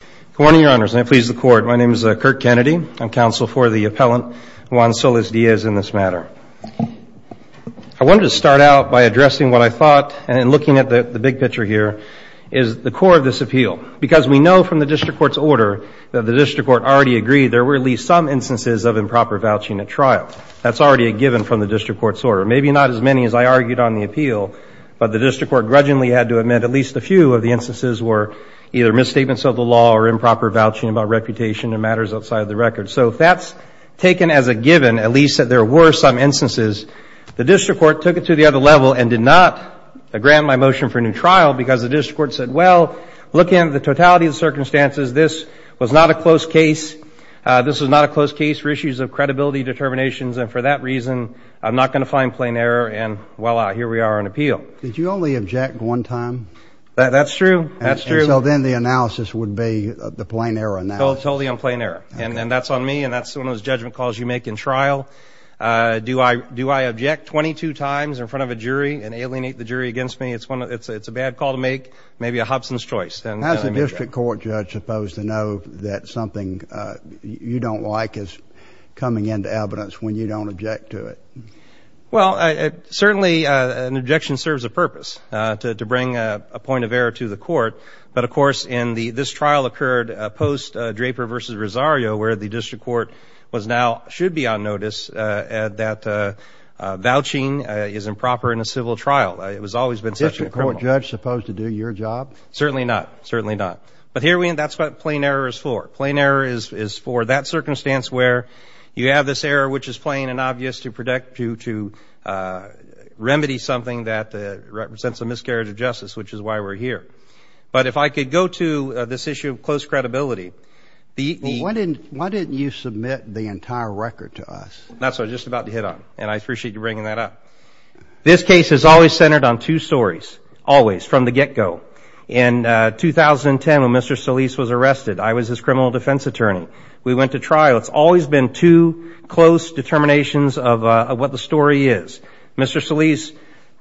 Good morning, Your Honors, and I please the Court. My name is Kirk Kennedy. I'm counsel for the appellant Juan Solis-Diaz in this matter. I wanted to start out by addressing what I thought, and looking at the big picture here, is the core of this appeal. Because we know from the District Court's order that the District Court already agreed there were at least some instances of improper vouching at trial. That's already a given from the District Court's order. Maybe not as many as I argued on the appeal, but the District Court grudgingly had to admit at least a few of the instances were either misstatements of the law or improper vouching about reputation and matters outside the record. So if that's taken as a given, at least that there were some instances, the District Court took it to the other level and did not grant my motion for a new trial because the District Court said, well, looking at the totality of the circumstances, this was not a close case. This was not a close case for issues of credibility, determinations, and for that reason I'm not going to find plain error, and voila, here we are on appeal. Did you only object one time? That's true. That's true. And so then the analysis would be the plain error analysis. Totally on plain error. And that's on me, and that's one of those judgment calls you make in trial. Do I object 22 times in front of a jury and alienate the jury against me? It's a bad call to make, maybe a Hobson's choice. How is the District Court judge supposed to know that something you don't like is coming into evidence when you don't object to it? Well, certainly an objection serves a purpose, to bring a point of error to the court. But, of course, this trial occurred post-Draper v. Rosario where the District Court was now, should be on notice that vouching is improper in a civil trial. It has always been such a criminal. Is the District Court judge supposed to do your job? Certainly not. Certainly not. But that's what plain error is for. Plain error is for that circumstance where you have this error, which is plain and obvious, to remedy something that represents a miscarriage of justice, which is why we're here. But if I could go to this issue of close credibility. Why didn't you submit the entire record to us? That's what I was just about to hit on, and I appreciate you bringing that up. This case is always centered on two stories, always, from the get-go. In 2010, when Mr. Solis was arrested, I was his criminal defense attorney. We went to trial. It's always been two close determinations of what the story is. Mr. Solis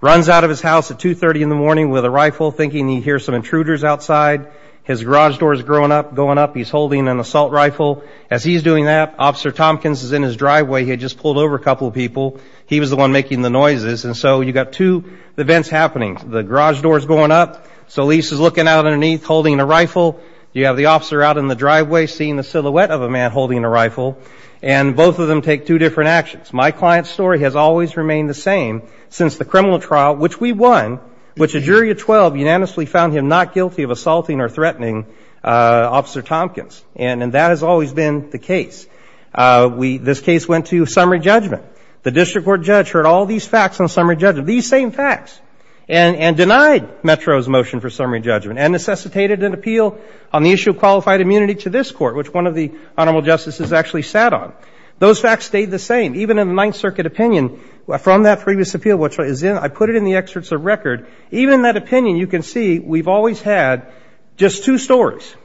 runs out of his house at 2.30 in the morning with a rifle thinking he hears some intruders outside. His garage door is going up. He's holding an assault rifle. As he's doing that, Officer Tompkins is in his driveway. He had just pulled over a couple of people. He was the one making the noises. And so you've got two events happening. The garage door is going up. Solis is looking out underneath, holding a rifle. You have the officer out in the driveway seeing the silhouette of a man holding a rifle. And both of them take two different actions. My client's story has always remained the same since the criminal trial, which we won, which a jury of 12 unanimously found him not guilty of assaulting or threatening Officer Tompkins. And that has always been the case. This case went to summary judgment. The district court judge heard all these facts on summary judgment, these same facts, and denied Metro's motion for summary judgment and necessitated an appeal on the issue of qualified immunity to this court, which one of the Honorable Justices actually sat on. Those facts stayed the same. Even in the Ninth Circuit opinion, from that previous appeal, which I put it in the excerpts of record, even in that opinion, you can see we've always had just two stories.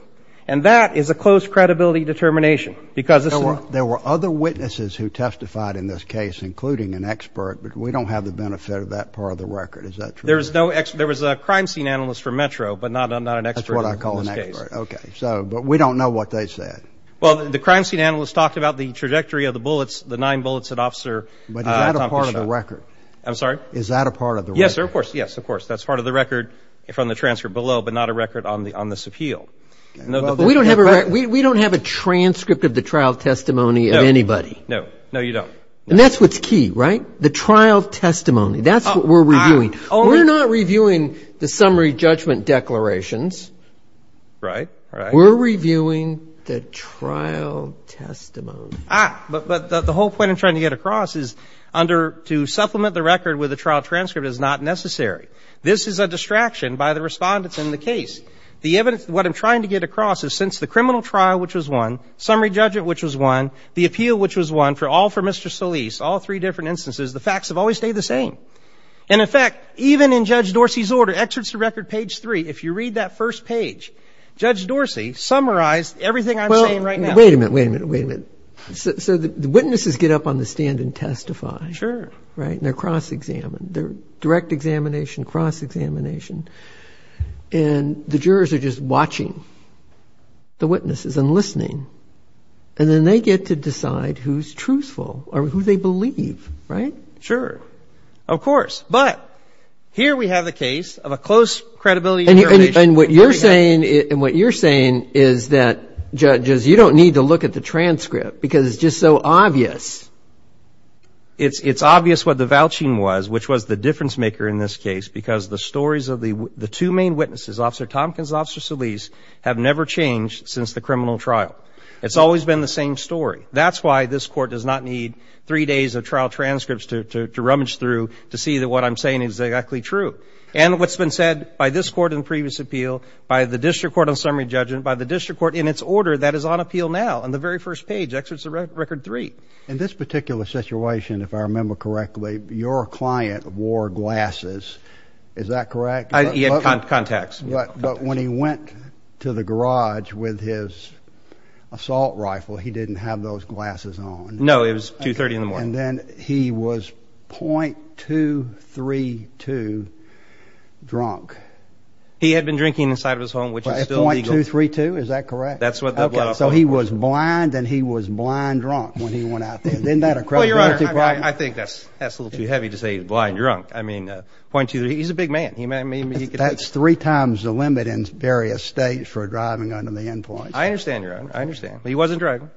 And that is a close credibility determination. There were other witnesses who testified in this case, including an expert, but we don't have the benefit of that part of the record. Is that true? There was a crime scene analyst for Metro, but not an expert. That's what I call an expert. Okay. But we don't know what they said. Well, the crime scene analyst talked about the trajectory of the bullets, the nine bullets that Officer Tompkins shot. But is that a part of the record? I'm sorry? Is that a part of the record? Yes, sir, of course. Yes, of course. That's part of the record from the transcript below, but not a record on this appeal. We don't have a transcript of the trial testimony of anybody. No. No, you don't. And that's what's key, right? The trial testimony. That's what we're reviewing. We're not reviewing the summary judgment declarations. Right. We're reviewing the trial testimony. But the whole point I'm trying to get across is under to supplement the record with a trial transcript is not necessary. This is a distraction by the respondents in the case. The evidence, what I'm trying to get across is since the criminal trial, which was won, summary judgment, which was won, the appeal, which was won, all for Mr. Solis, all three different instances, the facts have always stayed the same. And, in fact, even in Judge Dorsey's order, excerpts to record page 3, if you read that first page, Judge Dorsey summarized everything I'm saying right now. Well, wait a minute, wait a minute, wait a minute. So the witnesses get up on the stand and testify. Sure. Right. And they're cross-examined. They're direct examination, cross-examination. And the jurors are just watching the witnesses and listening. And then they get to decide who's truthful or who they believe. Right? Sure. Of course. But here we have the case of a close credibility determination. And what you're saying is that, judges, you don't need to look at the transcript because it's just so obvious. It's obvious what the vouching was, which was the difference maker in this case because the stories of the two main witnesses, Officer Tompkins and Officer Solis, have never changed since the criminal trial. It's always been the same story. That's why this Court does not need three days of trial transcripts to rummage through to see that what I'm saying is exactly true. And what's been said by this Court in the previous appeal, by the District Court on summary judgment, by the District Court in its order that is on appeal now on the very first page, excerpts to record 3. In this particular situation, if I remember correctly, your client wore glasses. Is that correct? He had contacts. But when he went to the garage with his assault rifle, he didn't have those glasses on. No. It was 2.30 in the morning. And then he was .232 drunk. He had been drinking inside of his home, which is still legal. .232. Is that correct? That's what the blood officer was. So he was blind and he was blind drunk when he went out there. Isn't that a credibility problem? Well, Your Honor, I think that's a little too heavy to say he was blind drunk. I mean, point to you, he's a big man. That's three times the limit in various states for driving under the end points. I understand, Your Honor. I understand. But he wasn't driving.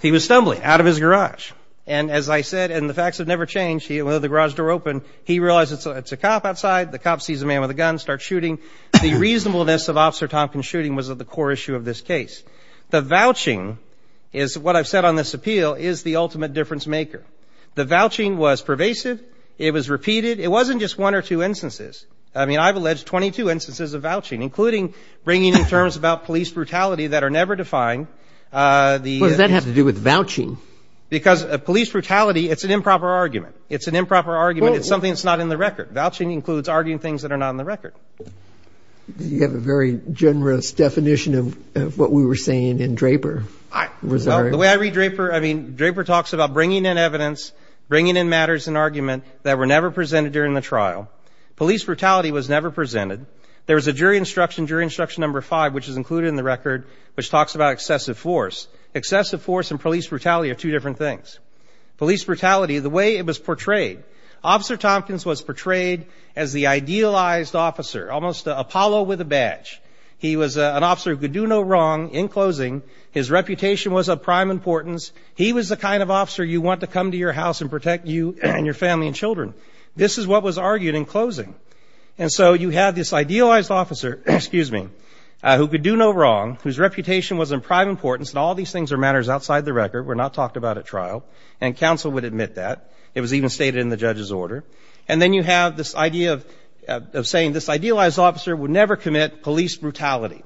He was stumbling out of his garage. And as I said, and the facts have never changed, when the garage door opened, he realized it's a cop outside. The cop sees a man with a gun and starts shooting. The reasonableness of Officer Tompkins' shooting was at the core issue of this case. The vouching is what I've said on this appeal is the ultimate difference maker. The vouching was pervasive. It was repeated. It wasn't just one or two instances. I mean, I've alleged 22 instances of vouching, including bringing in terms about police brutality that are never defined. Well, does that have to do with vouching? Because police brutality, it's an improper argument. It's an improper argument. It's something that's not in the record. Vouching includes arguing things that are not in the record. You have a very generous definition of what we were saying in Draper. The way I read Draper, I mean, Draper talks about bringing in evidence, bringing in matters and argument that were never presented during the trial. Police brutality was never presented. There was a jury instruction, jury instruction number five, which is included in the record, which talks about excessive force. Excessive force and police brutality are two different things. Police brutality, the way it was portrayed, Officer Tompkins was portrayed as the idealized officer, almost Apollo with a badge. He was an officer who could do no wrong in closing. His reputation was of prime importance. He was the kind of officer you want to come to your house and protect you and your family and children. This is what was argued in closing. And so you have this idealized officer, excuse me, who could do no wrong, whose reputation was of prime importance, and all these things are matters outside the record, were not talked about at trial, and counsel would admit that. It was even stated in the judge's order. And then you have this idea of saying this idealized officer would never commit police brutality.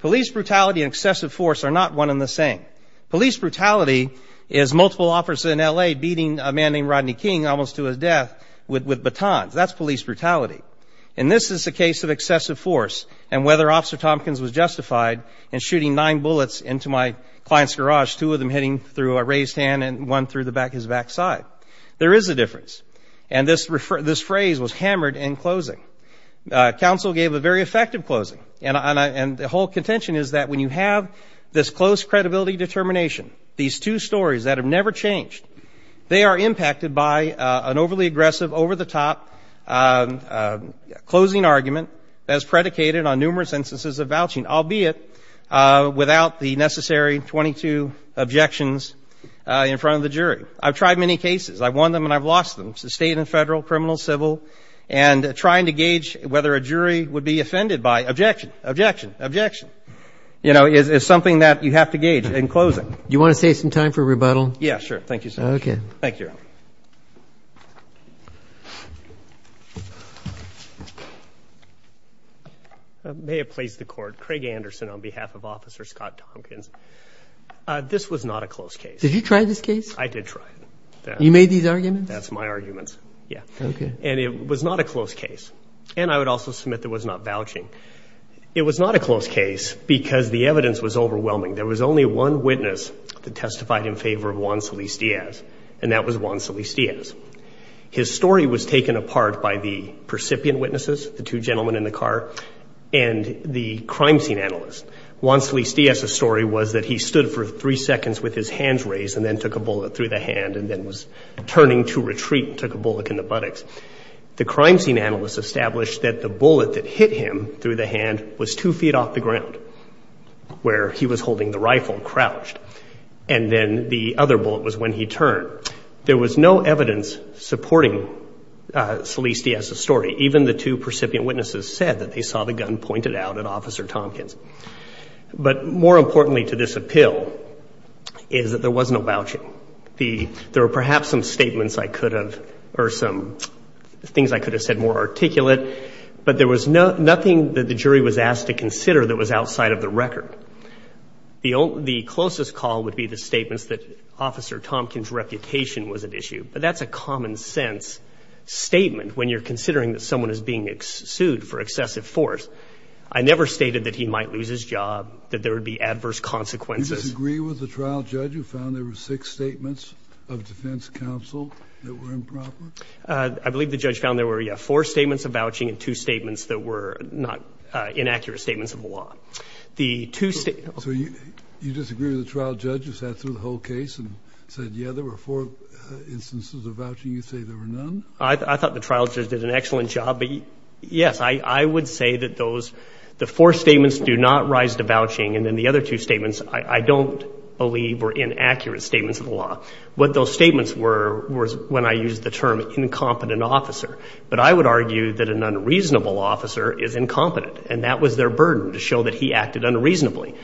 Police brutality and excessive force are not one and the same. Police brutality is multiple officers in L.A. beating a man named Rodney King almost to his death with batons. That's police brutality. And this is the case of excessive force and whether Officer Tompkins was justified in shooting nine bullets into my client's garage, two of them hitting through a raised hand and one through his back side. There is a difference. And this phrase was hammered in closing. Counsel gave a very effective closing. And the whole contention is that when you have this close credibility determination, these two stories that have never changed, they are impacted by an overly aggressive, over-the-top closing argument as predicated on numerous instances of vouching, albeit without the necessary 22 objections in front of the jury. I've tried many cases. I've won them and I've lost them, state and federal, criminal, civil, and trying to gauge whether a jury would be offended by objection, objection, objection, you know, is something that you have to gauge in closing. Do you want to save some time for rebuttal? Yeah, sure. Thank you so much. Okay. Thank you. Your Honor. May it please the Court. Craig Anderson on behalf of Officer Scott Tompkins. This was not a close case. Did you try this case? I did try it. You made these arguments? That's my arguments. Yeah. Okay. And it was not a close case. And I would also submit that it was not vouching. It was not a close case because the evidence was overwhelming. There was only one witness that testified in favor of Juan Solis-Diaz, and that was Juan Solis-Diaz. His story was taken apart by the percipient witnesses, the two gentlemen in the car, and the crime scene analyst. Juan Solis-Diaz's story was that he stood for three seconds with his hands raised and then took a bullet through the hand and then was turning to retreat and took a bullet in the buttocks. The crime scene analyst established that the bullet that hit him through the hand was two feet off the ground, where he was holding the rifle crouched, and then the other bullet was when he turned. There was no evidence supporting Solis-Diaz's story. Even the two percipient witnesses said that they saw the gun pointed out at Officer Tompkins. But more importantly to this appeal is that there was no vouching. There were perhaps some statements I could have, or some things I could have said more articulate, but there was nothing that the jury was asked to consider that was outside of the record. The closest call would be the statements that Officer Tompkins' reputation was at issue, but that's a common-sense statement when you're considering that someone is being sued for excessive force. I never stated that he might lose his job, that there would be adverse consequences. Do you disagree with the trial judge who found there were six statements of defense counsel that were improper? I believe the judge found there were four statements of vouching and two statements that were not inaccurate statements of the law. So you disagree with the trial judge who sat through the whole case and said, yeah, there were four instances of vouching, you say there were none? I thought the trial judge did an excellent job. But, yes, I would say that the four statements do not rise to vouching, and then the other two statements I don't believe were inaccurate statements of the law. What those statements were was when I used the term incompetent officer. But I would argue that an unreasonable officer is incompetent, and that was their burden to show that he acted unreasonably.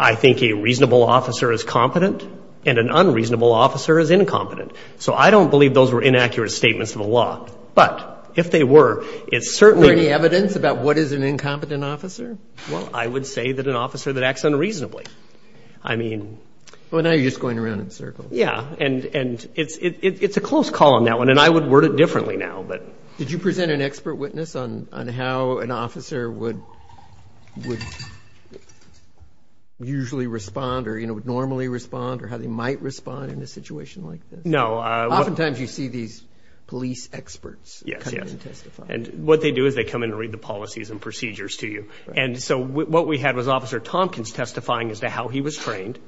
I think a reasonable officer is competent and an unreasonable officer is incompetent. So I don't believe those were inaccurate statements of the law. But if they were, it's certainly ñ Is there any evidence about what is an incompetent officer? Well, I would say that an officer that acts unreasonably. I mean ñ Well, now you're just going around in circles. Yeah. And it's a close call on that one, and I would word it differently now. Did you present an expert witness on how an officer would usually respond or, you know, would normally respond or how they might respond in a situation like this? No. Oftentimes you see these police experts come in and testify. And what they do is they come in and read the policies and procedures to you. And so what we had was Officer Tompkins testifying as to how he was trained,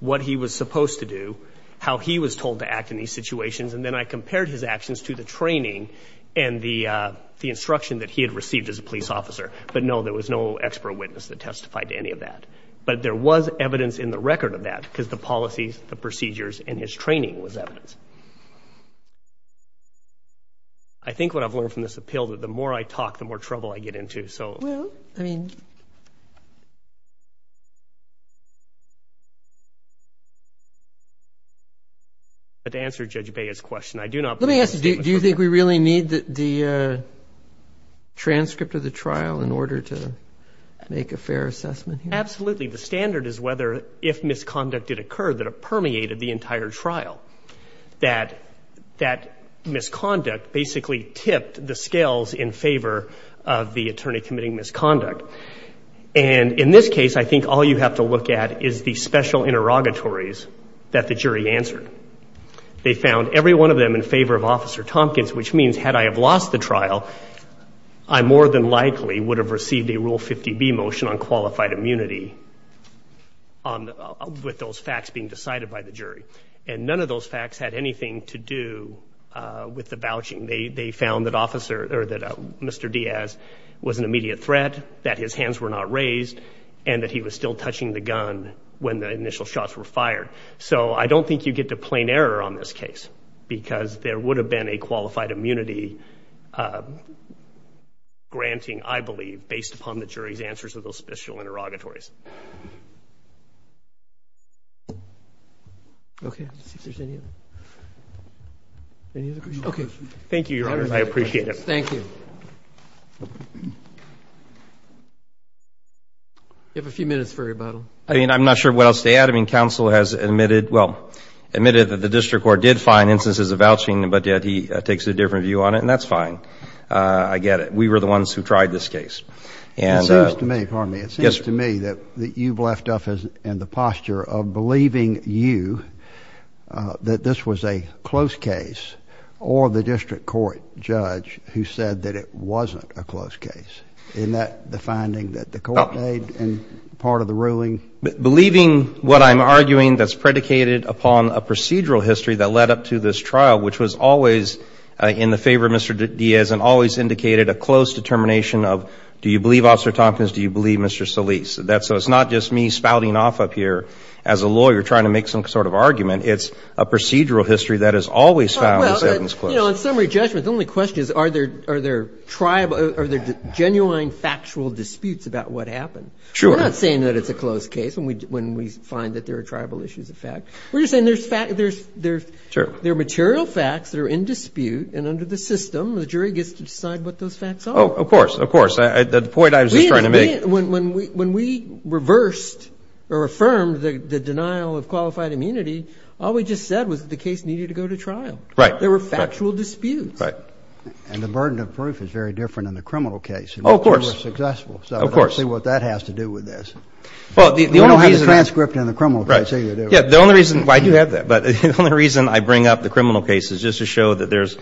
what he was supposed to do, how he was told to act in these situations, and then I compared his actions to the training and the instruction that he had received as a police officer. But, no, there was no expert witness that testified to any of that. But there was evidence in the record of that because the policies, the procedures, and his training was evidence. I think what I've learned from this appeal is that the more I talk, the more trouble I get into. Well, I mean, let me ask you, do you think we really need the transcript of the trial in order to make a fair assessment here? Absolutely. The standard is whether, if misconduct did occur, that it permeated the entire trial, that that misconduct basically tipped the scales in favor of the attorney committing misconduct. And in this case, I think all you have to look at is the special interrogatories that the jury answered. They found every one of them in favor of Officer Tompkins, which means had I have lost the trial, I more than likely would have received a Rule 50B motion on qualified immunity with those facts being decided by the jury. And none of those facts had anything to do with the vouching. They found that Mr. Diaz was an immediate threat, that his hands were not raised, and that he was still touching the gun when the initial shots were fired. So I don't think you get to plain error on this case because there would have been a qualified immunity granting, I believe, based upon the jury's answers of those special interrogatories. Okay. Any other questions? Okay. Thank you, Your Honor. I appreciate it. Thank you. You have a few minutes for rebuttal. I mean, I'm not sure what else to add. I mean, counsel has admitted, well, admitted that the district court did find instances of vouching, but yet he takes a different view on it, and that's fine. I get it. We were the ones who tried this case. It seems to me, pardon me. Yes, sir. That this was a close case or the district court judge who said that it wasn't a close case. Isn't that the finding that the court made and part of the ruling? Believing what I'm arguing that's predicated upon a procedural history that led up to this trial, which was always in the favor of Mr. Diaz and always indicated a close determination of do you believe Officer Tompkins, do you believe Mr. Solis. So it's not just me spouting off up here as a lawyer trying to make some sort of argument. It's a procedural history that has always found this evidence close. Well, you know, in summary judgment, the only question is are there genuine factual disputes about what happened. Sure. We're not saying that it's a close case when we find that there are tribal issues of fact. We're just saying there are material facts that are in dispute, and under the system the jury gets to decide what those facts are. Oh, of course, of course. The point I was just trying to make. When we reversed or affirmed the denial of qualified immunity, all we just said was the case needed to go to trial. Right. There were factual disputes. Right. And the burden of proof is very different in the criminal case. Oh, of course. You were successful. Of course. So I don't see what that has to do with this. Well, the only reason. You don't have the transcript in the criminal case either, do you? Yeah, the only reason I do have that, but the only reason I bring up the criminal case is just to show that there's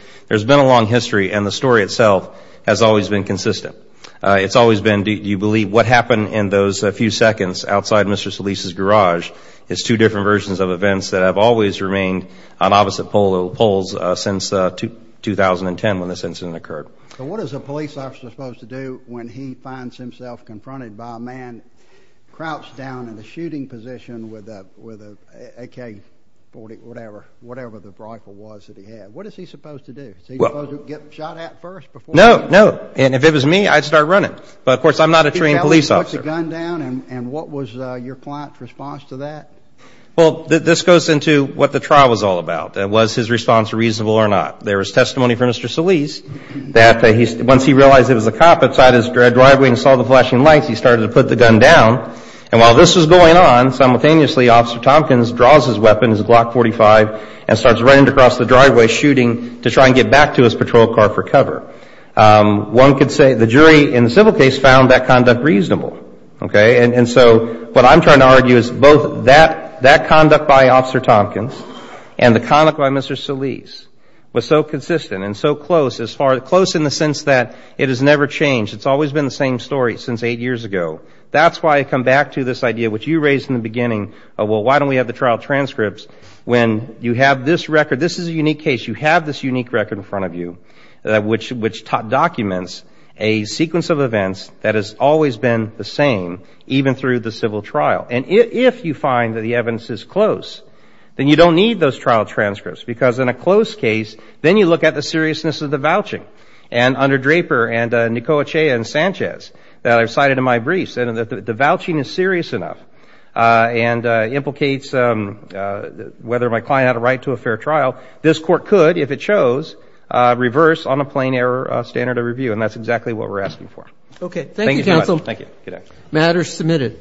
been a long history and the story itself has always been consistent. It's always been, do you believe, what happened in those few seconds outside Mr. Solis' garage is two different versions of events that have always remained on opposite poles since 2010 when this incident occurred. So what is a police officer supposed to do when he finds himself confronted by a man crouched down in the shooting position with an AK-40, whatever, whatever the rifle was that he had? What is he supposed to do? Is he supposed to get shot at first? No, no. And if it was me, I'd start running. But, of course, I'm not a trained police officer. Can you tell us who put the gun down and what was your client's response to that? Well, this goes into what the trial was all about, was his response reasonable or not. There was testimony from Mr. Solis that once he realized it was a cop outside his driveway and saw the flashing lights, he started to put the gun down. And while this was going on, simultaneously Officer Tompkins draws his weapon, his Glock .45, and starts running across the driveway shooting to try and get back to his patrol car for cover. One could say the jury in the civil case found that conduct reasonable. Okay? And so what I'm trying to argue is both that conduct by Officer Tompkins and the conduct by Mr. Solis was so consistent and so close, close in the sense that it has never changed. It's always been the same story since eight years ago. That's why I come back to this idea which you raised in the beginning of, well, why don't we have the trial transcripts when you have this record? This is a unique case. You have this unique record in front of you which documents a sequence of events that has always been the same, even through the civil trial. And if you find that the evidence is close, then you don't need those trial transcripts because in a close case, then you look at the seriousness of the vouching. And under Draper and Nicola Chea and Sanchez that I've cited in my briefs, the vouching is serious enough and implicates whether my client had a right to a fair trial. This court could, if it shows, reverse on a plain error standard of review. And that's exactly what we're asking for. Okay. Thank you, counsel. Thank you. Matter is submitted.